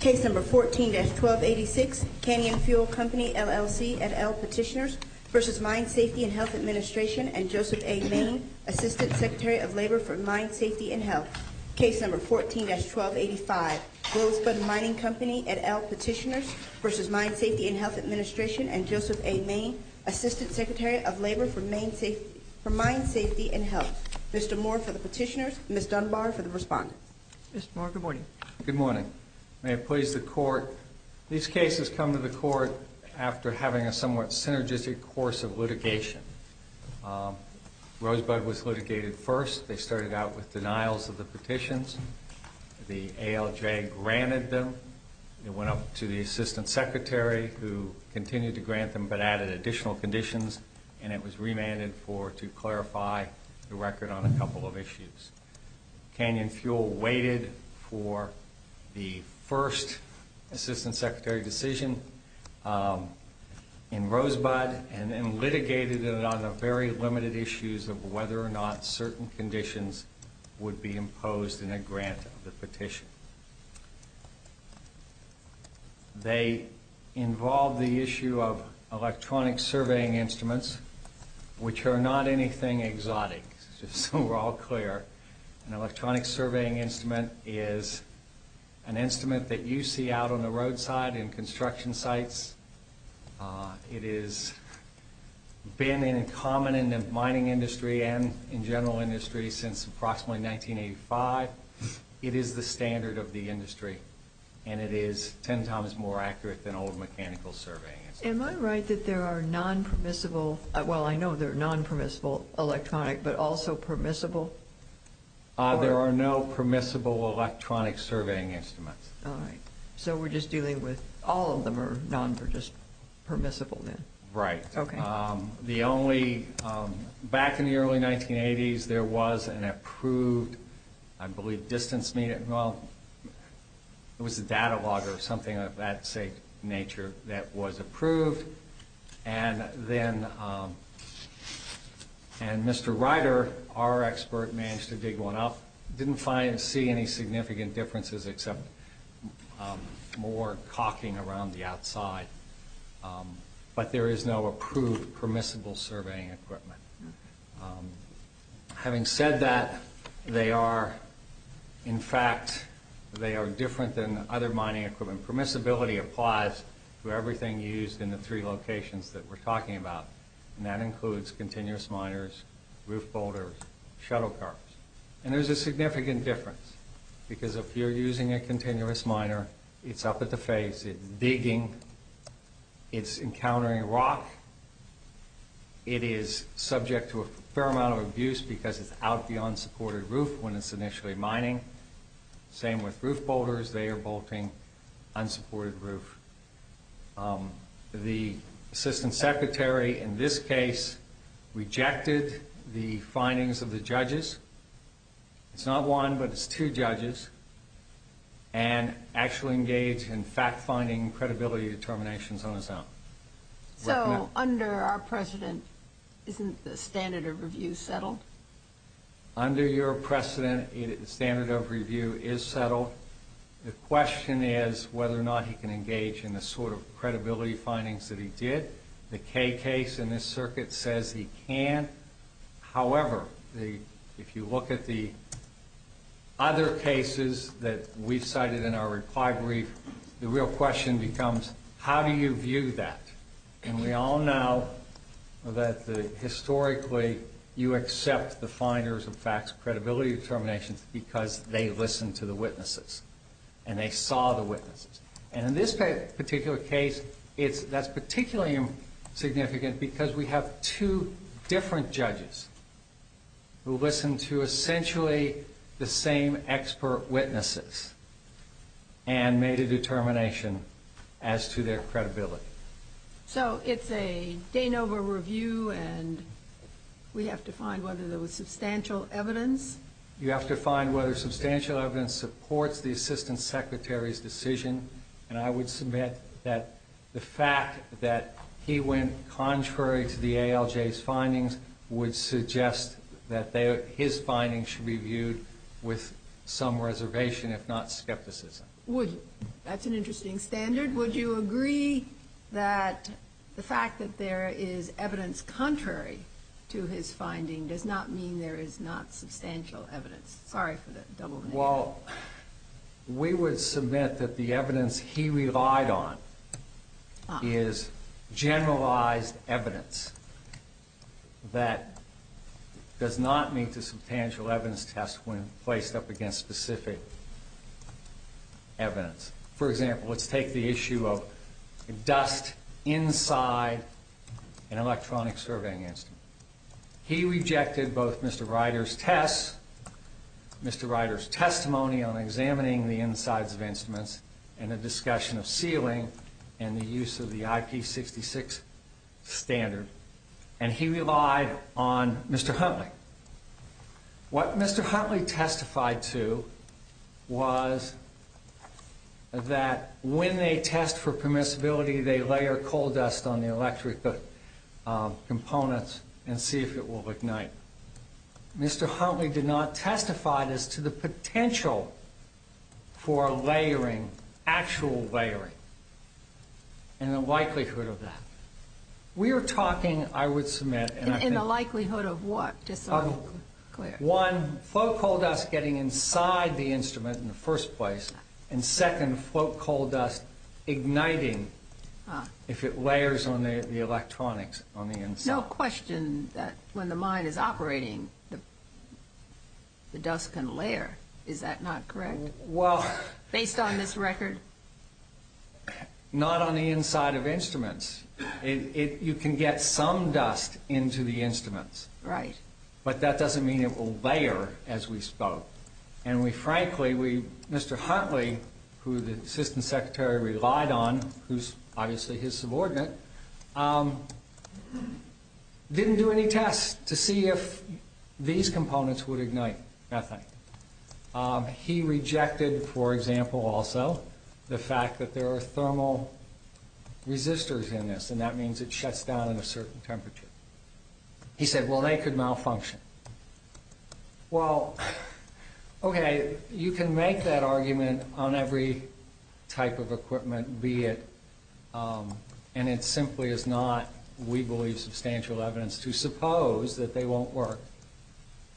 Case No. 14-1286, Canyon Fuel Company, LLC, et al. Petitioners v. Mine Safety and Health Administration and Joseph A. Main, Assistant Secretary of Labor for Mine Safety and Health. Case No. 14-1285, Rosebud Mining Company, et al. Petitioners v. Mine Safety and Health Administration and Joseph A. Main, Assistant Secretary of Labor for Mine Safety and Health. Mr. Moore for the petitioners, Ms. Dunbar for the respondent. Mr. Moore, good morning. Good morning. May it please the Court, these cases come to the Court after having a somewhat synergistic course of litigation. Rosebud was litigated first. They started out with denials of the petitions. The ALJ granted them. It went up to the Assistant Secretary, who continued to grant them but added additional conditions, and it was remanded to clarify the record on a couple of issues. Canyon Fuel waited for the first Assistant Secretary decision in Rosebud and then litigated it on the very limited issues of whether or not certain conditions would be imposed in a grant of the petition. They involved the issue of electronic surveying instruments, which are not anything exotic, just so we're all clear. An electronic surveying instrument is an instrument that you see out on the roadside in construction sites. It has been in common in the mining industry and in general industry since approximately 1985. It is the standard of the industry, and it is ten times more accurate than old mechanical surveying instruments. Am I right that there are non-permissible – well, I know there are non-permissible electronic, but also permissible? There are no permissible electronic surveying instruments. All right. So we're just dealing with – all of them are non-permissible then? Right. Okay. The only – back in the early 1980s, there was an approved, I believe, distance – well, it was a data log or something of that nature that was approved. And then – and Mr. Ryder, our expert, managed to dig one up. Didn't find – see any significant differences except more caulking around the outside. But there is no approved permissible surveying equipment. Having said that, they are – in fact, they are different than other mining equipment. Permissibility applies to everything used in the three locations that we're talking about, and that includes continuous miners, roof boulders, shuttle cars. And there's a significant difference because if you're using a continuous miner, it's up at the face. It's digging. It's encountering rock. It is subject to a fair amount of abuse because it's out beyond supported roof when it's initially mining. Same with roof boulders. They are boulting unsupported roof. The assistant secretary in this case rejected the findings of the judges. It's not one, but it's two judges. And actually engaged in fact-finding credibility determinations on his own. So under our precedent, isn't the standard of review settled? Under your precedent, the standard of review is settled. The question is whether or not he can engage in the sort of credibility findings that he did. The Kaye case in this circuit says he can. However, if you look at the other cases that we've cited in our reply brief, the real question becomes how do you view that? And we all know that historically you accept the finders of facts credibility determinations because they listened to the witnesses. And they saw the witnesses. And in this particular case, that's particularly significant because we have two different judges who listened to essentially the same expert witnesses and made a determination as to their credibility. So it's a Danover review and we have to find whether there was substantial evidence? You have to find whether substantial evidence supports the assistant secretary's decision. And I would submit that the fact that he went contrary to the ALJ's findings would suggest that his findings should be viewed with some reservation, if not skepticism. That's an interesting standard. Would you agree that the fact that there is evidence contrary to his finding does not mean there is not substantial evidence? Well, we would submit that the evidence he relied on is generalized evidence that does not mean to substantial evidence test when placed up against specific evidence. For example, let's take the issue of dust inside an electronic surveying instrument. He rejected both Mr. Ryder's test, Mr. Ryder's testimony on examining the insides of instruments and a discussion of sealing and the use of the IP66 standard. And he relied on Mr. Huntley. What Mr. Huntley testified to was that when they test for permissibility, they layer coal dust on the electric components and see if it will ignite. Mr. Huntley did not testify as to the potential for layering, actual layering, and the likelihood of that. We are talking, I would submit... And the likelihood of what, just so I'm clear? One, float coal dust getting inside the instrument in the first place, and second, float coal dust igniting if it layers on the electronics on the inside. No question that when the mine is operating, the dust can layer. Is that not correct? Well... Based on this record? Not on the inside of instruments. You can get some dust into the instruments. Right. But that doesn't mean it will layer as we spoke. And we frankly, Mr. Huntley, who the Assistant Secretary relied on, who's obviously his subordinate, didn't do any tests to see if these components would ignite methane. He rejected, for example, also, the fact that there are thermal resistors in this, and that means it shuts down at a certain temperature. He said, well, they could malfunction. Well, okay, you can make that argument on every type of equipment, be it... And it simply is not, we believe, substantial evidence to suppose that they won't work.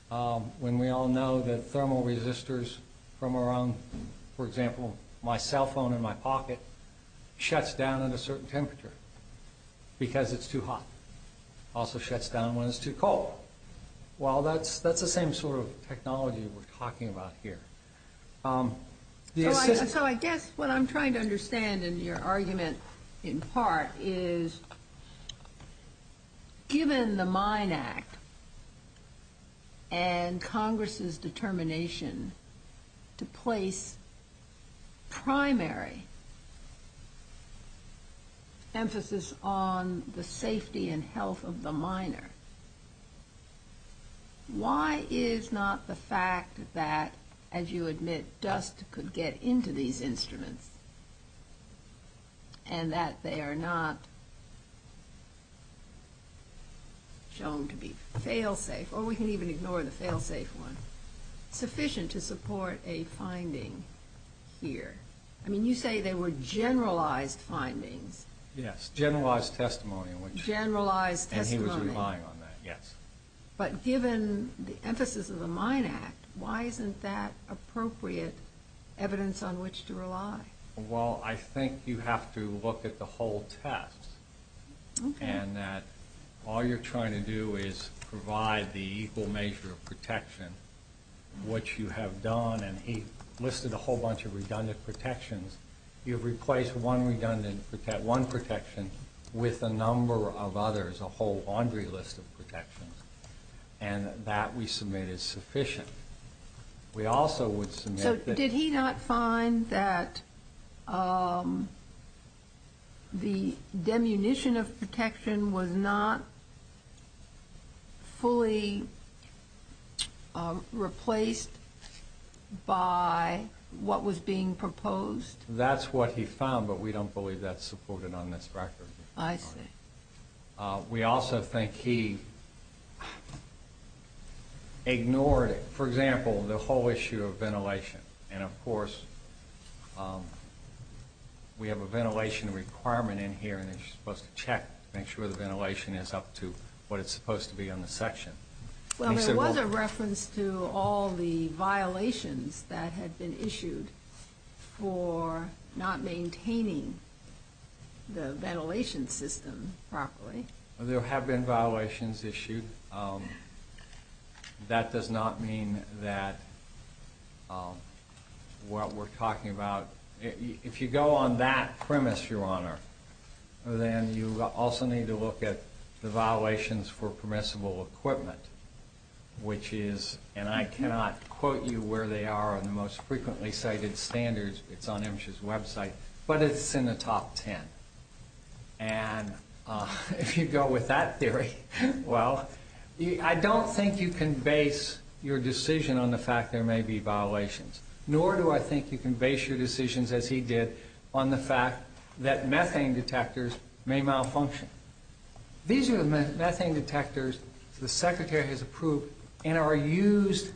When we all know that thermal resistors from around, for example, my cell phone in my pocket, shuts down at a certain temperature. Because it's too hot. Also shuts down when it's too cold. Well, that's the same sort of technology we're talking about here. So I guess what I'm trying to understand in your argument, in part, is given the MINE Act and Congress's determination to place primary emphasis on the safety and health of the miner, why is not the fact that, as you admit, dust could get into these instruments, and that they are not shown to be fail-safe, or we can even ignore the fail-safe one, sufficient to support a finding here? I mean, you say they were generalized findings. Yes, generalized testimony. And he was relying on that, yes. But given the emphasis of the MINE Act, why isn't that appropriate evidence on which to rely? Well, I think you have to look at the whole test. Okay. And that all you're trying to do is provide the equal measure of protection, which you have done. And he listed a whole bunch of redundant protections. You've replaced one protection with a number of others, a whole laundry list of protections. And that, we submit, is sufficient. So did he not find that the demunition of protection was not fully replaced by what was being proposed? That's what he found, but we don't believe that's supported on this record. I see. We also think he ignored, for example, the whole issue of ventilation. And, of course, we have a ventilation requirement in here, and you're supposed to check, make sure the ventilation is up to what it's supposed to be on the section. Well, there was a reference to all the violations that had been issued for not maintaining the ventilation system properly. There have been violations issued. That does not mean that what we're talking about... If you go on that premise, Your Honor, then you also need to look at the violations for permissible equipment, which is... And I cannot quote you where they are in the most frequently cited standards. It's on MSHA's website, but it's in the top ten. And if you go with that theory, well, I don't think you can base your decision on the fact there may be violations, nor do I think you can base your decisions, as he did, on the fact that methane detectors may malfunction. These are the methane detectors the Secretary has approved and are used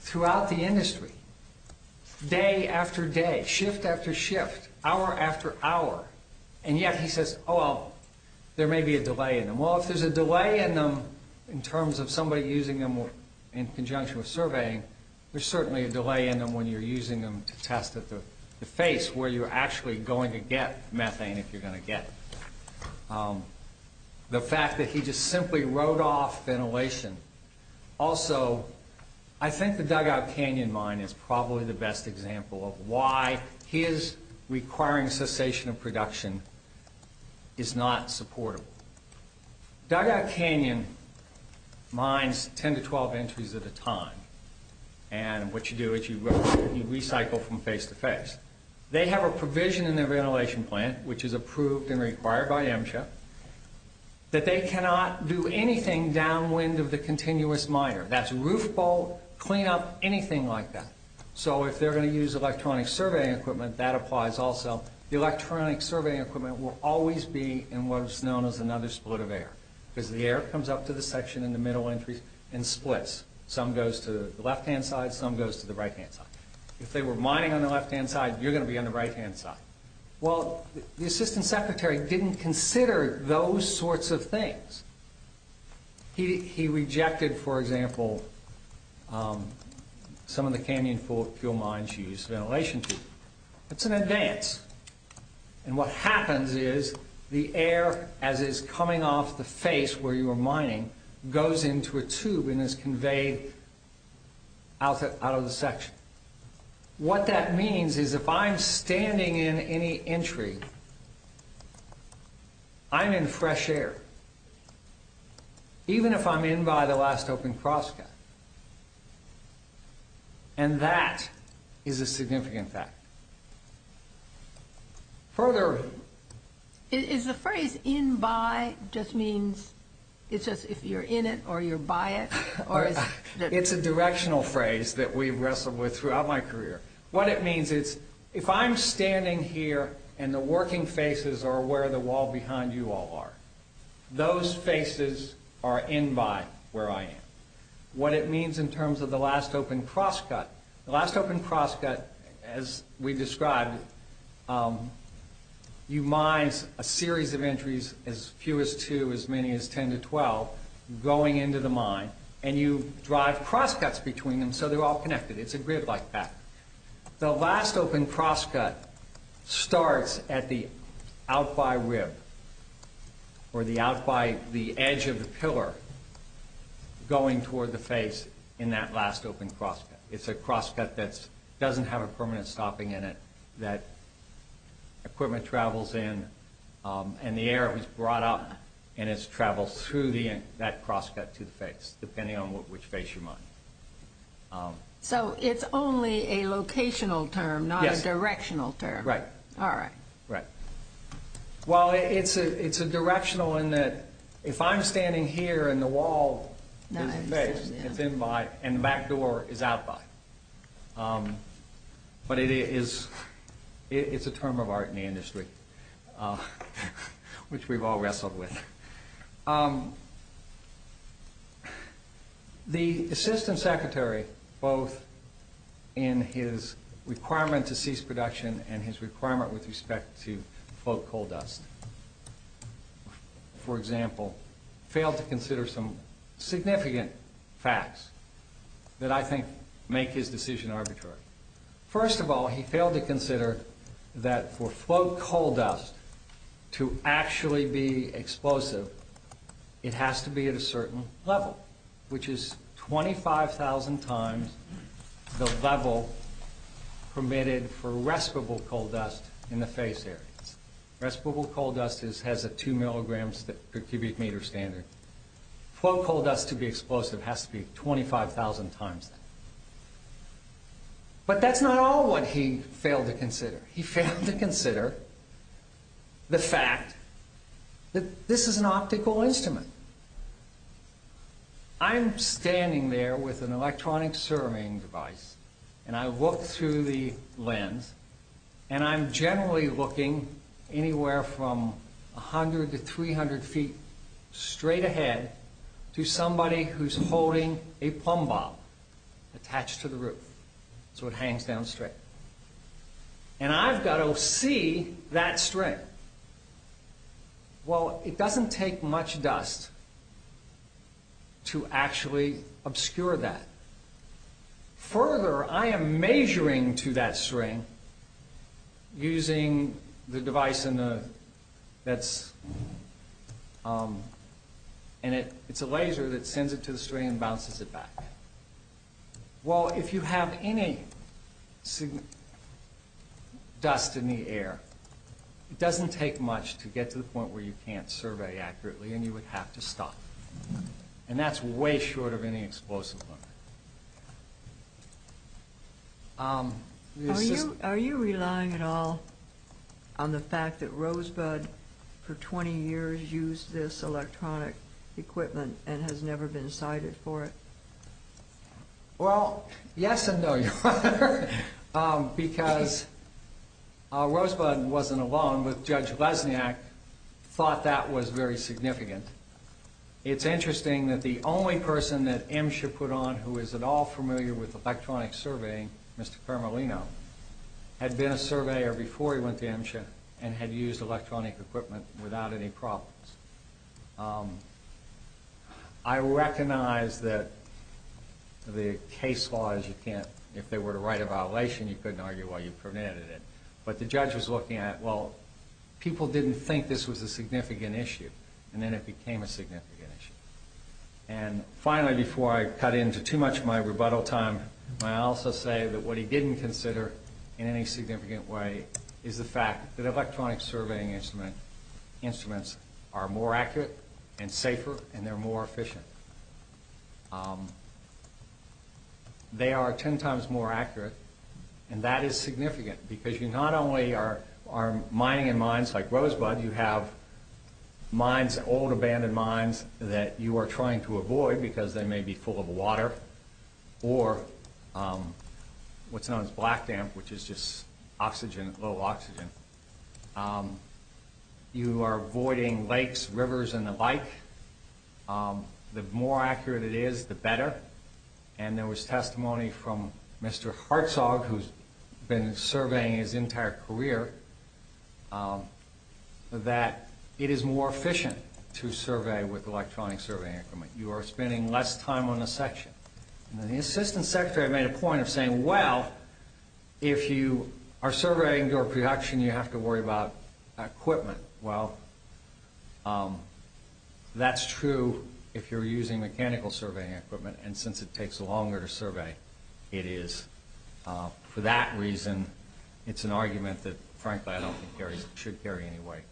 throughout the industry, day after day, shift after shift, hour after hour. And yet he says, oh, well, there may be a delay in them. Well, if there's a delay in them in terms of somebody using them in conjunction with surveying, there's certainly a delay in them when you're using them to test at the face where you're actually going to get methane if you're going to get it. The fact that he just simply wrote off ventilation. Also, I think the Dugout Canyon mine is probably the best example of why his requiring cessation of production is not supportable. Dugout Canyon mines 10 to 12 entries at a time, and what you do is you recycle from face to face. They have a provision in their ventilation plant, which is approved and required by MSHA, that they cannot do anything downwind of the continuous miner. That's roof bolt, clean up, anything like that. So if they're going to use electronic surveying equipment, that applies also. The electronic surveying equipment will always be in what is known as another split of air, because the air comes up to the section in the middle entry and splits. Some goes to the left-hand side, some goes to the right-hand side. If they were mining on the left-hand side, you're going to be on the right-hand side. Well, the assistant secretary didn't consider those sorts of things. He rejected, for example, some of the Canyon fuel mines use ventilation. It's an advance, and what happens is the air, as is coming off the face where you are mining, goes into a tube and is conveyed out of the section. What that means is if I'm standing in any entry, I'm in fresh air, even if I'm in by the last open crosscut. And that is a significant fact. Further... Is the phrase in by just means it's just if you're in it or you're by it? It's a directional phrase that we've wrestled with throughout my career. What it means is if I'm standing here and the working faces are where the wall behind you all are, those faces are in by where I am. What it means in terms of the last open crosscut, the last open crosscut, as we described, you mine a series of entries, as few as two, as many as 10 to 12, going into the mine, and you drive crosscuts between them so they're all connected. It's a grid like that. The last open crosscut starts at the out-by rib or the edge of the pillar going toward the face in that last open crosscut. It's a crosscut that doesn't have a permanent stopping in it, that equipment travels in, and the air is brought up and it travels through that crosscut to the face, depending on which face you mine. So it's only a locational term, not a directional term. Right. All right. Right. Well, it's a directional in that if I'm standing here and the wall is in base, it's in by, and the back door is out by. But it's a term of art in the industry, which we've all wrestled with. The assistant secretary, both in his requirement to cease production and his requirement with respect to float coal dust, for example, failed to consider some significant facts that I think make his decision arbitrary. First of all, he failed to consider that for float coal dust to actually be explosive, it has to be at a certain level, which is 25,000 times the level permitted for respirable coal dust in the face areas. Respirable coal dust has a 2-milligrams per cubic meter standard. Float coal dust to be explosive has to be 25,000 times that. But that's not all what he failed to consider. He failed to consider the fact that this is an optical instrument. I'm standing there with an electronic surveying device, and I look through the lens, and I'm generally looking anywhere from 100 to 300 feet straight ahead to somebody who's holding a plumb bob attached to the roof so it hangs down straight. And I've got to see that string. Well, it doesn't take much dust to actually obscure that. Further, I am measuring to that string using the device, and it's a laser that sends it to the string and bounces it back. Well, if you have any dust in the air, it doesn't take much to get to the point where you can't survey accurately and you would have to stop. And that's way short of any explosive. Are you relying at all on the fact that Rosebud, for 20 years, used this electronic equipment and has never been cited for it? Well, yes and no, Your Honor, because Rosebud wasn't alone, but Judge Lesniak thought that was very significant. It's interesting that the only person that MSHA put on who is at all familiar with electronic surveying, Mr. Permolino, had been a surveyor before he went to MSHA and had used electronic equipment without any problems. I recognize that the case law is you can't, if they were to write a violation, you couldn't argue why you permitted it. But the judge was looking at, well, people didn't think this was a significant issue, and then it became a significant issue. And finally, before I cut into too much of my rebuttal time, may I also say that what he didn't consider in any significant way is the fact that electronic surveying instruments are more accurate and safer and they're more efficient. They are ten times more accurate, and that is significant, because you not only are mining in mines like Rosebud, you have mines, old abandoned mines, that you are trying to avoid because they may be full of water, or what's known as black damp, which is just oxygen, low oxygen. You are voiding lakes, rivers, and the like. The more accurate it is, the better. And there was testimony from Mr. Hartzog, who's been surveying his entire career, that it is more efficient to survey with electronic surveying equipment. You are spending less time on a section. And the assistant secretary made a point of saying, well, if you are surveying your production, you have to worry about equipment. Well, that's true if you're using mechanical surveying equipment, and since it takes longer to survey, it is. For that reason, it's an argument that, frankly, I don't think it should carry any weight.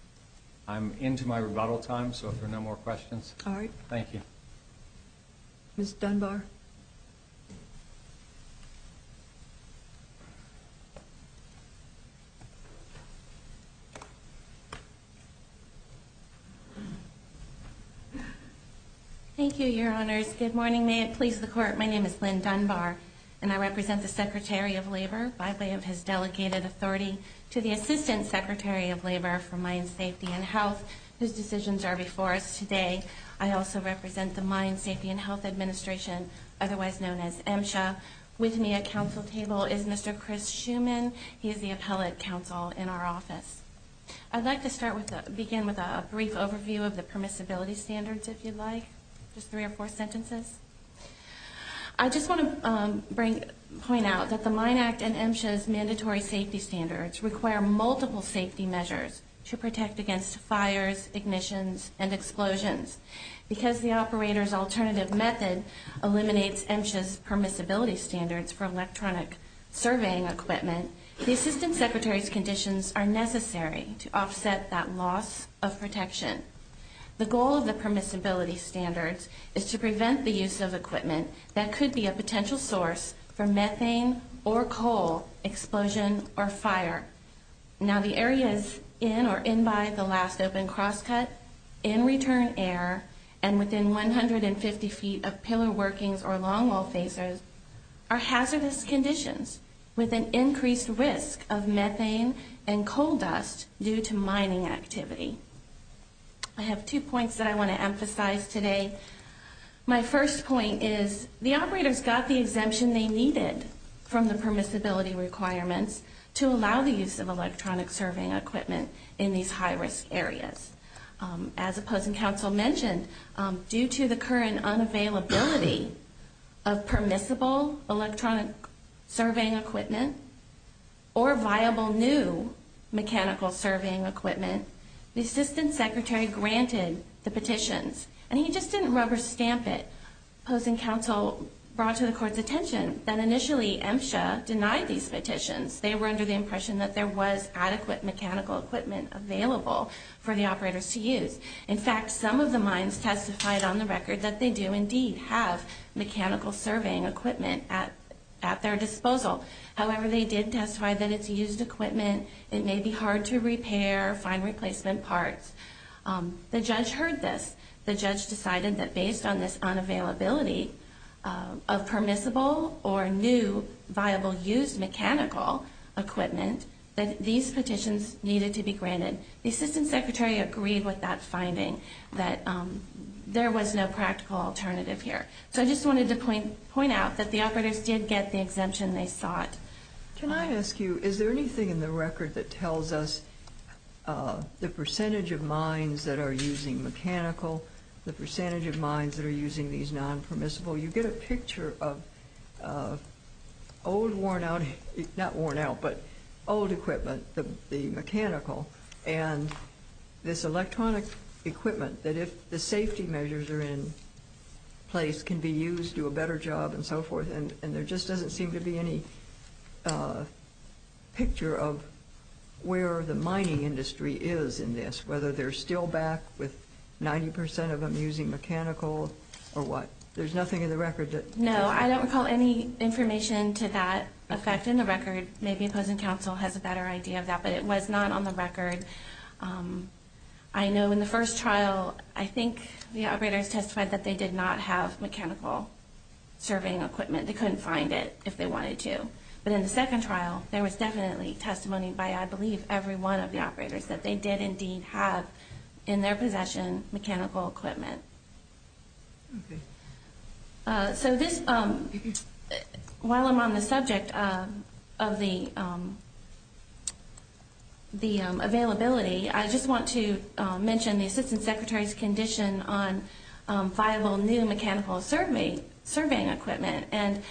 I'm into my rebuttal time, so if there are no more questions. All right. Thank you. Ms. Dunbar. Thank you, Your Honors. Good morning. May it please the Court. My name is Lynn Dunbar, and I represent the Secretary of Labor by way of his delegated authority to the Assistant Secretary of Labor for Mine Safety and Health, whose decisions are before us today. I also represent the Mine Safety and Health Administration, otherwise known as MSHA. With me at council table is Mr. Chris Schuman. He is the appellate counsel in our office. I'd like to begin with a brief overview of the permissibility standards, if you'd like. Just three or four sentences. I just want to point out that the Mine Act and MSHA's mandatory safety standards require multiple safety measures to protect against fires, ignitions, and explosions. Because the operator's alternative method eliminates MSHA's permissibility standards for electronic surveying equipment, the Assistant Secretary's conditions are necessary to offset that loss of protection. The goal of the permissibility standards is to prevent the use of equipment that could be a potential source for methane or coal explosion or fire. Now, the areas in or in by the last open crosscut, in return air, and within 150 feet of pillar workings or longwall facers, are hazardous conditions with an increased risk of methane and coal dust due to mining activity. I have two points that I want to emphasize today. My first point is the operators got the exemption they needed from the permissibility requirements to allow the use of electronic surveying equipment in these high-risk areas. As opposing counsel mentioned, due to the current unavailability of permissible electronic surveying equipment or viable new mechanical surveying equipment, the Assistant Secretary granted the petitions. And he just didn't rubber stamp it. Opposing counsel brought to the Court's attention that initially MSHA denied these petitions. They were under the impression that there was adequate mechanical equipment available for the operators to use. In fact, some of the mines testified on the record that they do indeed have mechanical surveying equipment at their disposal. However, they did testify that it's used equipment. It may be hard to repair, find replacement parts. The judge heard this. The judge decided that based on this unavailability of permissible or new viable used mechanical equipment, that these petitions needed to be granted. The Assistant Secretary agreed with that finding, that there was no practical alternative here. So I just wanted to point out that the operators did get the exemption they sought. Can I ask you, is there anything in the record that tells us the percentage of mines that are using mechanical, the percentage of mines that are using these non-permissible? You get a picture of old worn out, not worn out, but old equipment, the mechanical, and this electronic equipment that if the safety measures are in place can be used, do a better job, and so forth. And there just doesn't seem to be any picture of where the mining industry is in this, whether they're still back with 90 percent of them using mechanical or what. There's nothing in the record that says that. No, I don't recall any information to that effect in the record. Maybe opposing counsel has a better idea of that, but it was not on the record. I know in the first trial, I think the operators testified that they did not have mechanical surveying equipment. They couldn't find it if they wanted to. But in the second trial, there was definitely testimony by, I believe, every one of the operators that they did indeed have in their possession mechanical equipment. Okay. So this, while I'm on the subject of the availability, I just want to mention the Assistant Secretary's condition on viable new mechanical surveying equipment. And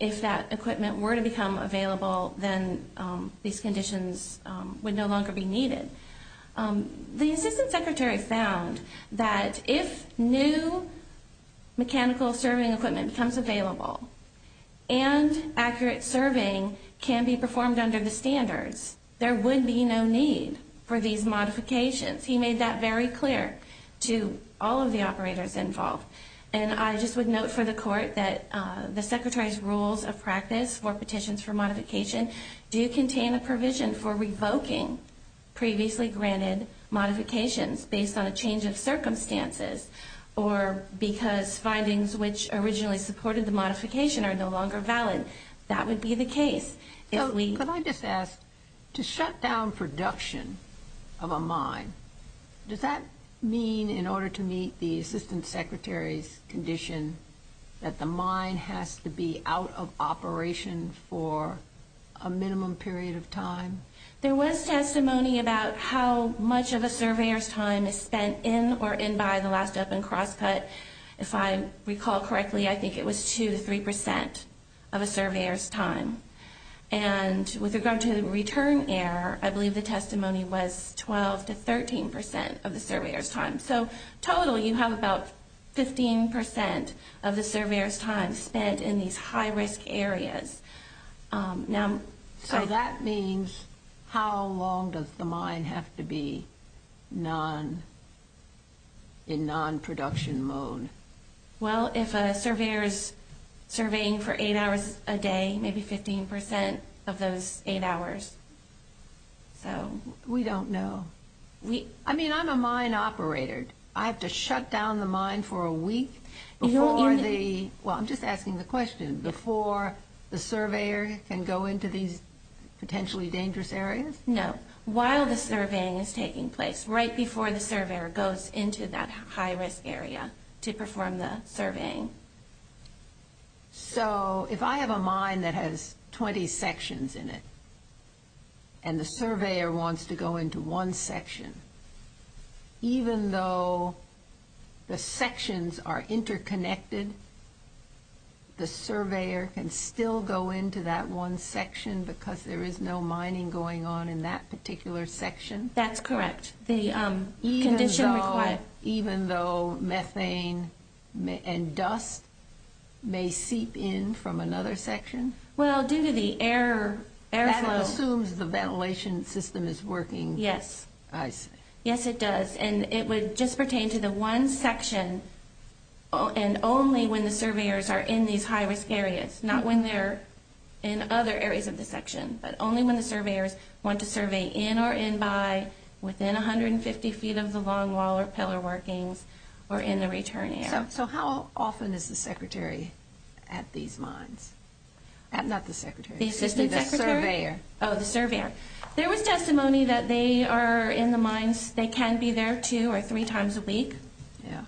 if that equipment were to become available, then these conditions would no longer be needed. The Assistant Secretary found that if new mechanical surveying equipment becomes available and accurate surveying can be performed under the standards, there would be no need for these modifications. He made that very clear to all of the operators involved. And I just would note for the Court that the Secretary's Rules of Practice for Petitions for Modification do contain a provision for revoking previously granted modifications based on a change of circumstances or because findings which originally supported the modification are no longer valid. That would be the case. Could I just ask, to shut down production of a mine, does that mean in order to meet the Assistant Secretary's condition that the mine has to be out of operation for a minimum period of time? There was testimony about how much of a surveyor's time is spent in or in by the last up and cross cut. If I recall correctly, I think it was 2 to 3 percent of a surveyor's time. And with regard to the return error, I believe the testimony was 12 to 13 percent of the surveyor's time. So totally you have about 15 percent of the surveyor's time spent in these high risk areas. So that means how long does the mine have to be in non-production mode? Well, if a surveyor is surveying for 8 hours a day, maybe 15 percent of those 8 hours. We don't know. I mean, I'm a mine operator. I have to shut down the mine for a week before the, well, I'm just asking the question, before the surveyor can go into these potentially dangerous areas? No. While the surveying is taking place, right before the surveyor goes into that high risk area to perform the surveying. So if I have a mine that has 20 sections in it, and the surveyor wants to go into one section, even though the sections are interconnected, the surveyor can still go into that one section because there is no mining going on in that particular section? That's correct. Even though methane and dust may seep in from another section? Well, due to the air flow. That assumes the ventilation system is working. Yes. I see. Yes, it does. And it would just pertain to the one section and only when the surveyors are in these high risk areas, not when they're in other areas of the section, but only when the surveyors want to survey in or in by, within 150 feet of the long wall or pillar workings, or in the return area. So how often is the secretary at these mines? Not the secretary. The assistant secretary? The surveyor. Oh, the surveyor. There was testimony that they are in the mines, they can be there two or three times a week. Yeah.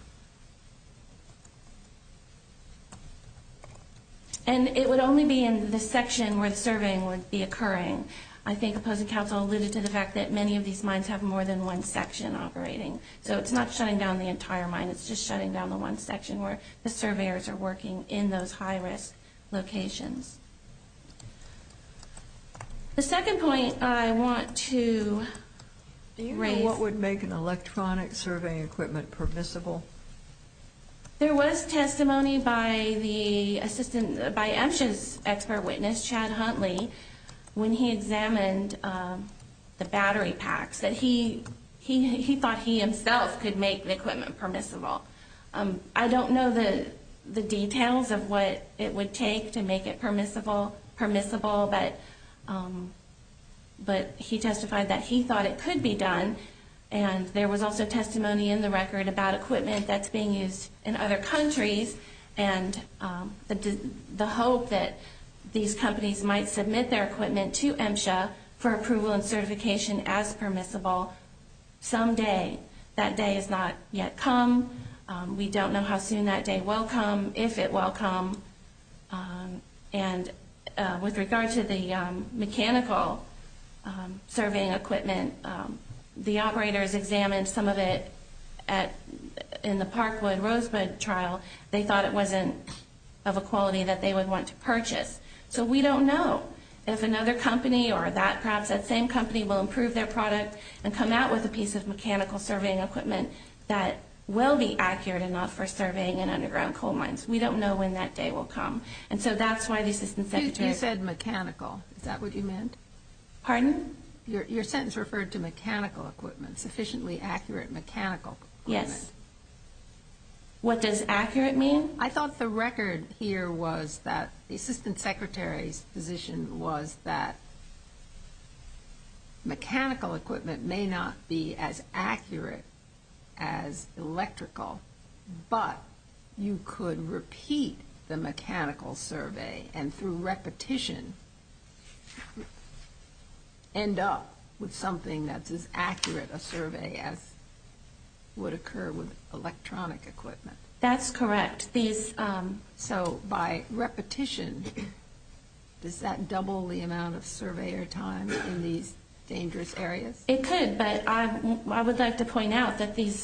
And it would only be in the section where the surveying would be occurring. I think opposing counsel alluded to the fact that many of these mines have more than one section operating. So it's not shutting down the entire mine. It's just shutting down the one section where the surveyors are working in those high risk locations. The second point I want to raise. So what would make an electronic surveying equipment permissible? There was testimony by the assistant, by MSHA's expert witness, Chad Huntley, when he examined the battery packs, that he thought he himself could make the equipment permissible. I don't know the details of what it would take to make it permissible, but he testified that he thought it could be done. And there was also testimony in the record about equipment that's being used in other countries and the hope that these companies might submit their equipment to MSHA for approval and certification as permissible someday. That day has not yet come. We don't know how soon that day will come, if it will come. And with regard to the mechanical surveying equipment, the operators examined some of it in the Parkwood-Rosebud trial. They thought it wasn't of a quality that they would want to purchase. So we don't know if another company or that perhaps that same company will improve their product and come out with a piece of mechanical surveying equipment that will be accurate enough for surveying in underground coal mines. We don't know when that day will come. And so that's why the assistant secretary... You said mechanical. Is that what you meant? Pardon? Your sentence referred to mechanical equipment, sufficiently accurate mechanical equipment. Yes. What does accurate mean? I thought the record here was that the assistant secretary's position was that mechanical equipment may not be as accurate as electrical, but you could repeat the mechanical survey and through repetition end up with something that's as accurate a survey as would occur with electronic equipment. That's correct. So by repetition, does that double the amount of surveyor time in these dangerous areas? It could, but I would like to point out that these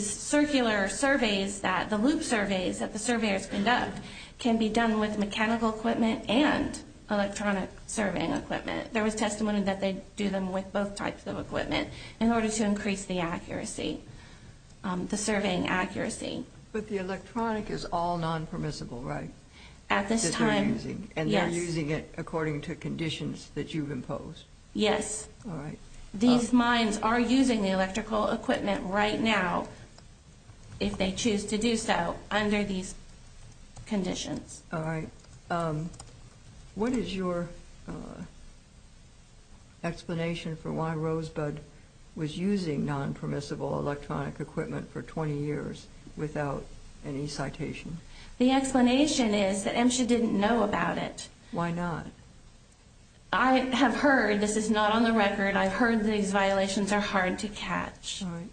circular surveys, the loop surveys that the surveyors conduct can be done with mechanical equipment and electronic surveying equipment. There was testimony that they do them with both types of equipment in order to increase the accuracy, the surveying accuracy. But the electronic is all non-permissible, right? At this time, yes. And they're using it according to conditions that you've imposed? Yes. All right. These mines are using the electrical equipment right now if they choose to do so under these conditions. All right. What is your explanation for why Rosebud was using non-permissible electronic equipment for 20 years without any citation? The explanation is that MSHA didn't know about it. Why not? I have heard, this is not on the record, I've heard these violations are hard to catch. All right.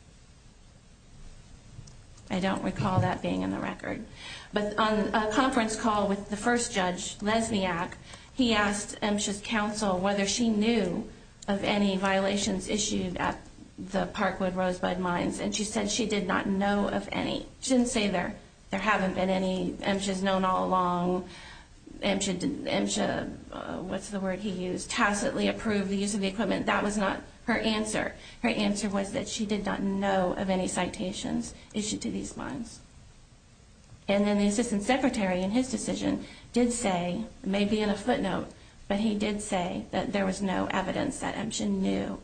I don't recall that being in the record. But on a conference call with the first judge, Lesniak, he asked MSHA's counsel whether she knew of any violations issued at the Parkwood Rosebud mines. And she said she did not know of any. She didn't say there haven't been any. MSHA's known all along. MSHA, what's the word he used, tacitly approved the use of the equipment. That was not her answer. Her answer was that she did not know of any citations issued to these mines. And then the assistant secretary, in his decision, did say, maybe in a footnote, but he did say that there was no evidence that MSHA knew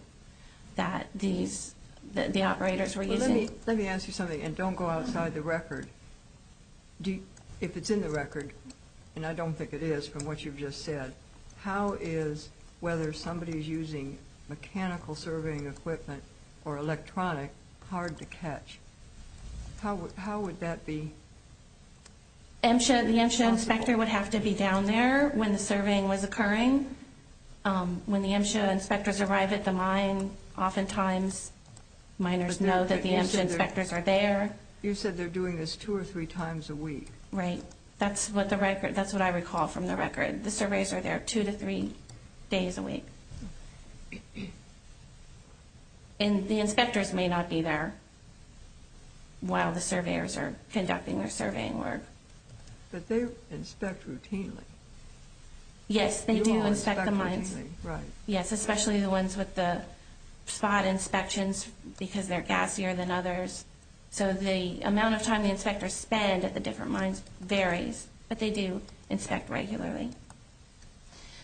that the operators were using it. Let me ask you something, and don't go outside the record. If it's in the record, and I don't think it is from what you've just said, how is whether somebody is using mechanical surveying equipment or electronic hard to catch? How would that be possible? The MSHA inspector would have to be down there when the surveying was occurring. When the MSHA inspectors arrive at the mine, oftentimes miners know that the MSHA inspectors are there. You said they're doing this two or three times a week. Right. That's what I recall from the record. The surveys are there two to three days a week. And the inspectors may not be there while the surveyors are conducting their surveying work. But they inspect routinely. Yes, they do inspect the mines. You all inspect routinely, right. Yes, especially the ones with the spot inspections because they're gassier than others. So the amount of time the inspectors spend at the different mines varies. But they do inspect regularly.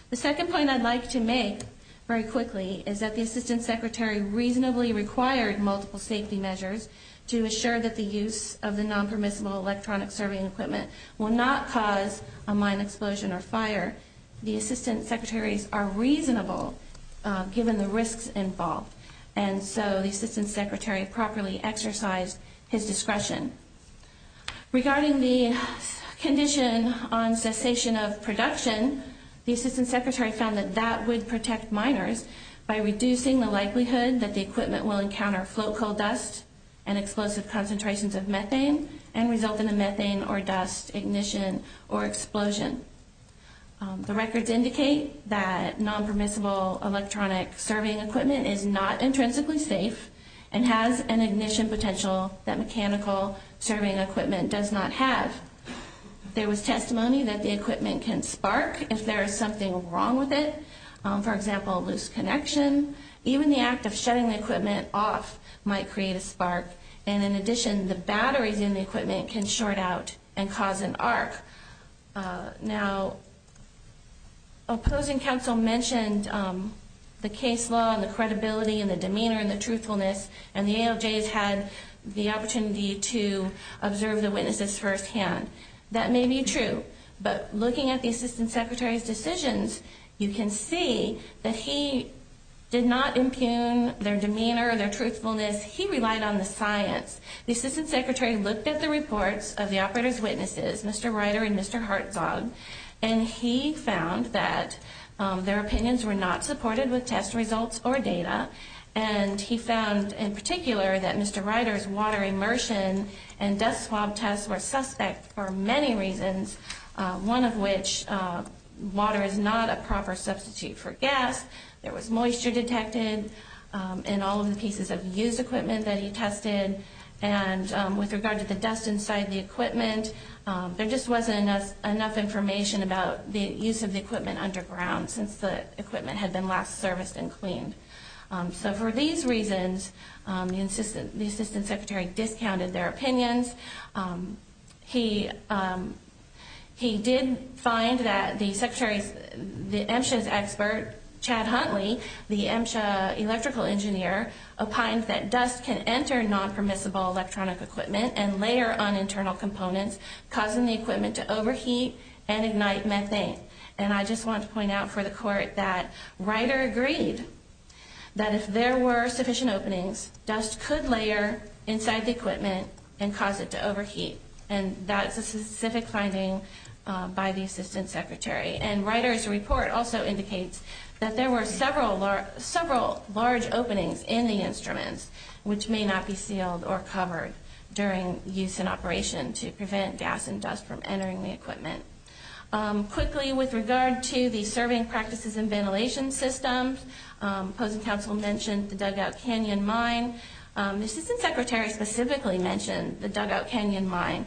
The second point I'd like to make very quickly is that the assistant secretary reasonably required multiple safety measures to assure that the use of the non-permissible electronic surveying equipment will not cause a mine explosion or fire. The assistant secretaries are reasonable given the risks involved. And so the assistant secretary properly exercised his discretion. Regarding the condition on cessation of production, the assistant secretary found that that would protect miners by reducing the likelihood that the equipment will encounter float coal dust and explosive concentrations of methane and result in a methane or dust ignition or explosion. The records indicate that non-permissible electronic surveying equipment is not intrinsically safe and has an ignition potential that mechanical surveying equipment does not have. There was testimony that the equipment can spark if there is something wrong with it. For example, loose connection. Even the act of shutting the equipment off might create a spark. And in addition, the batteries in the equipment can short out and cause an arc. Now, opposing counsel mentioned the case law and the credibility and the demeanor and the truthfulness, and the ALJs had the opportunity to observe the witnesses firsthand. That may be true, but looking at the assistant secretary's decisions, you can see that he did not impugn their demeanor or their truthfulness. He relied on the science. The assistant secretary looked at the reports of the operator's witnesses, Mr. Ryder and Mr. Hartzog, and he found that their opinions were not supported with test results or data, and he found in particular that Mr. Ryder's water immersion and dust swab tests were suspect for many reasons, one of which water is not a proper substitute for gas, there was moisture detected in all of the pieces of used equipment that he tested, and with regard to the dust inside the equipment, there just wasn't enough information about the use of the equipment underground since the equipment had been last serviced and cleaned. So for these reasons, the assistant secretary discounted their opinions. He did find that the secretary's, the MSHA's expert, Chad Huntley, the MSHA electrical engineer, opined that dust can enter non-permissible electronic equipment and layer on internal components, causing the equipment to overheat and ignite methane, and I just want to point out for the court that Ryder agreed that if there were sufficient openings, dust could layer inside the equipment and cause it to overheat, and that's a specific finding by the assistant secretary, and Ryder's report also indicates that there were several large openings in the instruments which may not be sealed or covered during use and operation to prevent gas and dust from entering the equipment. Quickly, with regard to the serving practices and ventilation systems, opposing counsel mentioned the dugout canyon mine. The assistant secretary specifically mentioned the dugout canyon mine.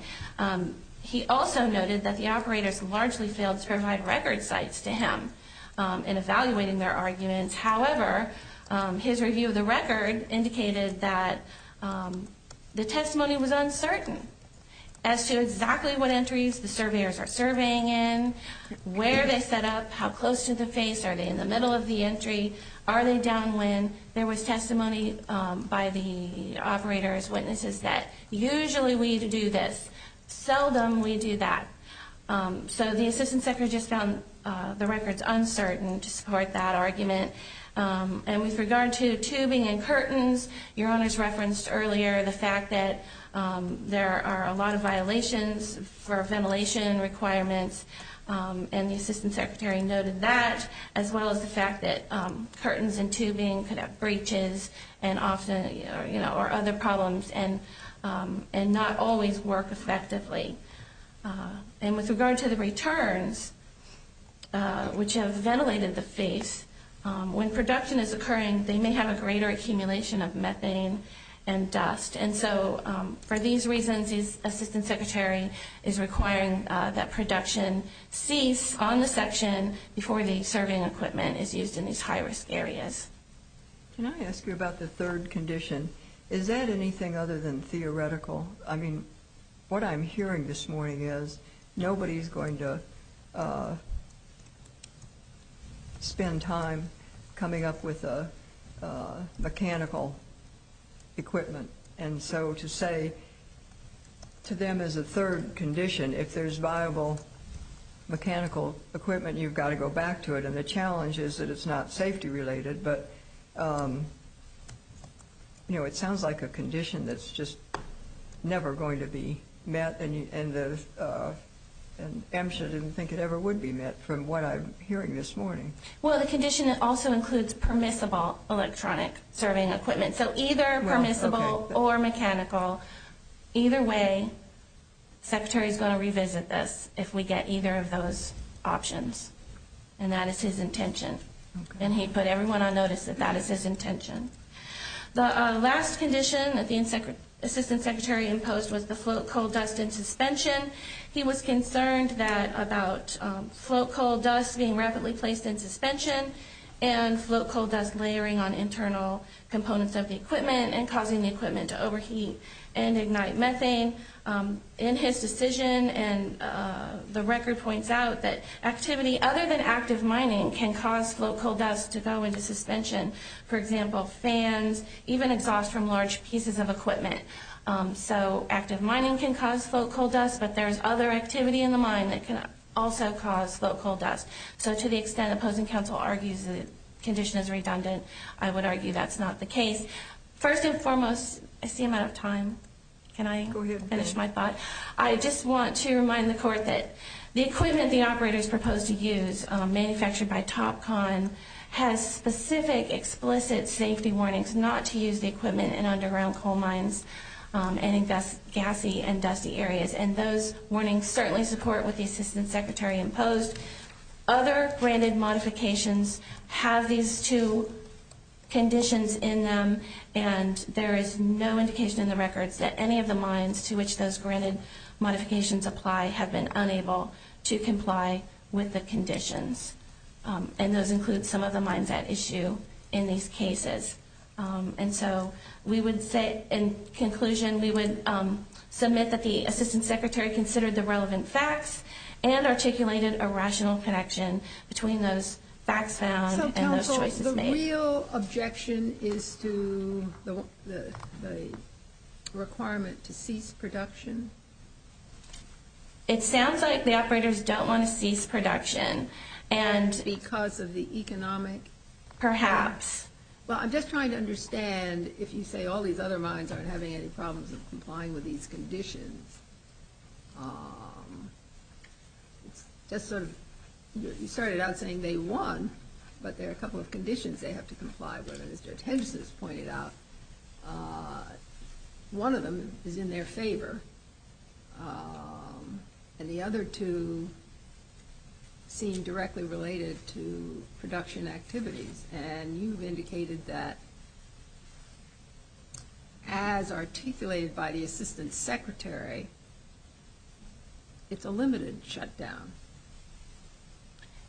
He also noted that the operators largely failed to provide record sites to him in evaluating their arguments. However, his review of the record indicated that the testimony was uncertain as to exactly what entries the surveyors are surveying in, where they set up, how close to the face, are they in the middle of the entry, are they downwind. There was testimony by the operators, witnesses, that usually we do this, seldom we do that. So the assistant secretary just found the records uncertain to support that argument. And with regard to tubing and curtains, your honors referenced earlier the fact that there are a lot of violations for ventilation requirements, and the assistant secretary noted that, as well as the fact that curtains and tubing could have breaches or other problems and not always work effectively. And with regard to the returns, which have ventilated the face, when production is occurring, they may have a greater accumulation of methane and dust. And so for these reasons, the assistant secretary is requiring that production cease on the section before the surveying equipment is used in these high-risk areas. Can I ask you about the third condition? Is that anything other than theoretical? I mean, what I'm hearing this morning is nobody's going to spend time coming up with mechanical equipment and so to say to them as a third condition, if there's viable mechanical equipment, you've got to go back to it. And the challenge is that it's not safety-related. But, you know, it sounds like a condition that's just never going to be met, and AMSHA didn't think it ever would be met from what I'm hearing this morning. Well, the condition also includes permissible electronic surveying equipment. So either permissible or mechanical. Either way, the secretary is going to revisit this if we get either of those options. And that is his intention. And he put everyone on notice that that is his intention. The last condition that the assistant secretary imposed was the float coal dust in suspension. He was concerned about float coal dust being rapidly placed in suspension and float coal dust layering on internal components of the equipment and causing the equipment to overheat and ignite methane. In his decision, the record points out that activity other than active mining can cause float coal dust to go into suspension. For example, fans, even exhaust from large pieces of equipment. So active mining can cause float coal dust, but there's other activity in the mine that can also cause float coal dust. So to the extent opposing counsel argues the condition is redundant, I would argue that's not the case. First and foremost, I see I'm out of time. Can I finish my thought? I just want to remind the court that the equipment the operators proposed to use, manufactured by Topcon, has specific explicit safety warnings not to use the equipment in underground coal mines and in gassy and dusty areas. And those warnings certainly support what the assistant secretary imposed. Other granted modifications have these two conditions in them, and there is no indication in the records that any of the mines to which those granted modifications apply have been unable to comply with the conditions. And those include some of the mines at issue in these cases. And so we would say in conclusion we would submit that the assistant secretary considered the relevant facts and articulated a rational connection between those facts found and those choices made. So counsel, the real objection is to the requirement to cease production? It sounds like the operators don't want to cease production. Because of the economic? Perhaps. Well, I'm just trying to understand if you say all these other mines aren't having any problems with complying with these conditions. You started out saying they won, but there are a couple of conditions they have to comply with. And as Judge Hedges has pointed out, one of them is in their favor, and the other two seem directly related to production activities. And you've indicated that as articulated by the assistant secretary, it's a limited shutdown.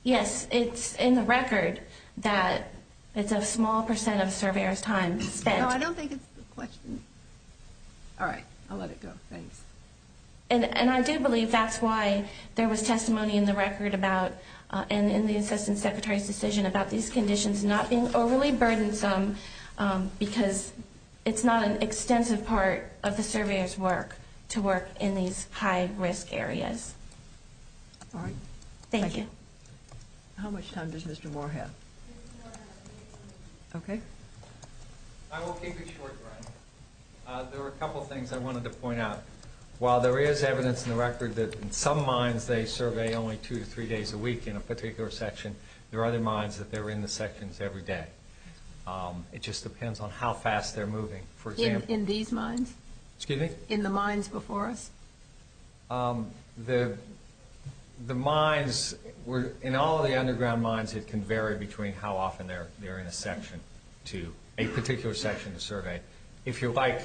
Yes. It's in the record that it's a small percent of surveyors' time spent. No, I don't think it's the question. All right. I'll let it go. Thanks. And I do believe that's why there was testimony in the record about and in the assistant secretary's decision about these conditions not being overly burdensome because it's not an extensive part of the surveyor's work to work in these high-risk areas. All right. Thank you. How much time does Mr. Moore have? Okay. I will keep it short, Brian. There are a couple of things I wanted to point out. While there is evidence in the record that in some mines they survey only two to three days a week in a particular section, there are other mines that they're in the sections every day. It just depends on how fast they're moving. In these mines? Excuse me? In the mines before us? The mines, in all of the underground mines, it can vary between how often they're in a section to a particular section to survey. If you like.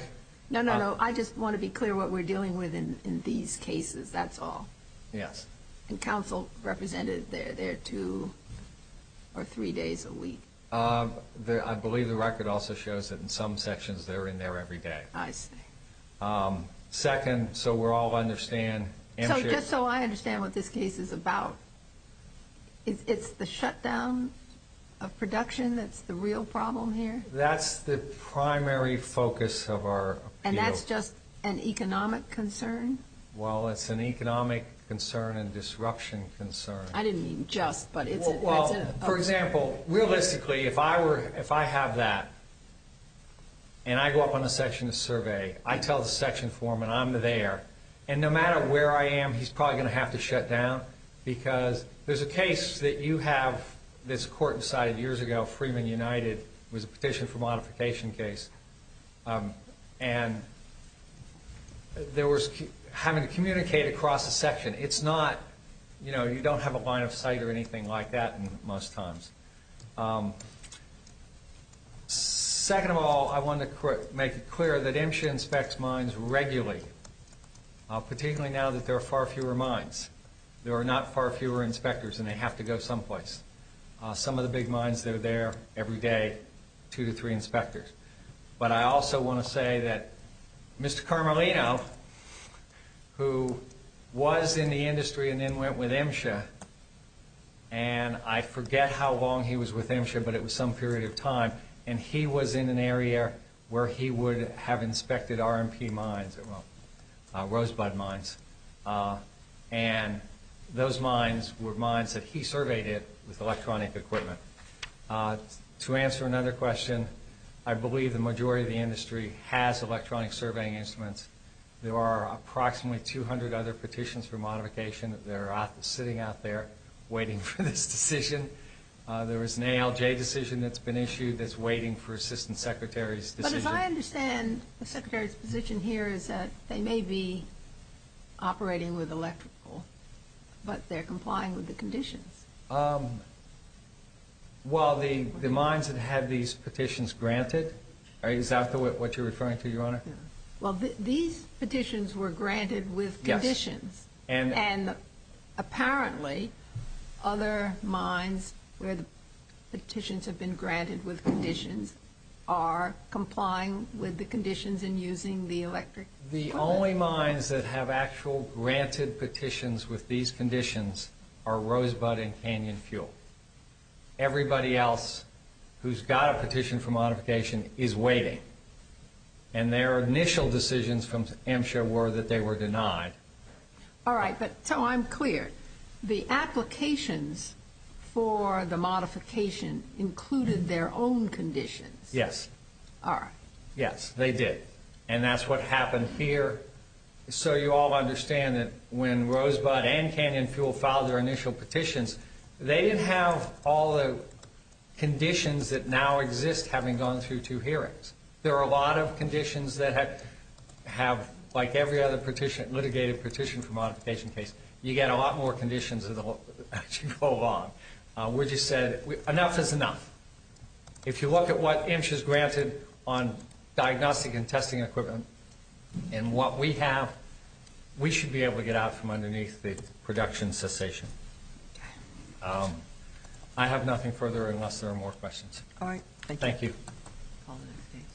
No, no, no. I just want to be clear what we're dealing with in these cases. That's all. Yes. And counsel represented they're there two or three days a week. I believe the record also shows that in some sections they're in there every day. I see. Second, so we all understand. So just so I understand what this case is about, it's the shutdown of production that's the real problem here? That's the primary focus of our appeal. And that's just an economic concern? Well, it's an economic concern and disruption concern. I didn't mean just, but it's a concern. For example, realistically, if I have that and I go up on the section to survey, I tell the section foreman I'm there, and no matter where I am he's probably going to have to shut down because there's a case that you have this court decided years ago, called Freeman United, was a petition for modification case. And there was having to communicate across the section. It's not, you know, you don't have a line of sight or anything like that most times. Second of all, I want to make it clear that MSHA inspects mines regularly, particularly now that there are far fewer mines. There are not far fewer inspectors, and they have to go someplace. Some of the big mines, they're there every day, two to three inspectors. But I also want to say that Mr. Carmelino, who was in the industry and then went with MSHA, and I forget how long he was with MSHA, but it was some period of time, and he was in an area where he would have inspected R&P mines, well, rosebud mines. And those mines were mines that he surveyed with electronic equipment. To answer another question, I believe the majority of the industry has electronic surveying instruments. There are approximately 200 other petitions for modification. They're sitting out there waiting for this decision. There was an ALJ decision that's been issued that's waiting for Assistant Secretary's decision. But I understand the Secretary's position here is that they may be operating with electrical, but they're complying with the conditions. Well, the mines that have these petitions granted are exactly what you're referring to, Your Honor. Well, these petitions were granted with conditions, and apparently other mines where the petitions have been granted with conditions are complying with the conditions and using the electric equipment. The only mines that have actual granted petitions with these conditions are Rosebud and Canyon Fuel. Everybody else who's got a petition for modification is waiting, and their initial decisions from MSHA were that they were denied. All right, but so I'm clear. The applications for the modification included their own conditions. Yes. All right. Yes, they did, and that's what happened here. So you all understand that when Rosebud and Canyon Fuel filed their initial petitions, they didn't have all the conditions that now exist having gone through two hearings. There are a lot of conditions that have, like every other litigated petition for modification case, you get a lot more conditions as you go along. We just said enough is enough. If you look at what MSHA has granted on diagnostic and testing equipment and what we have, we should be able to get out from underneath the production cessation. I have nothing further unless there are more questions. All right. Thank you.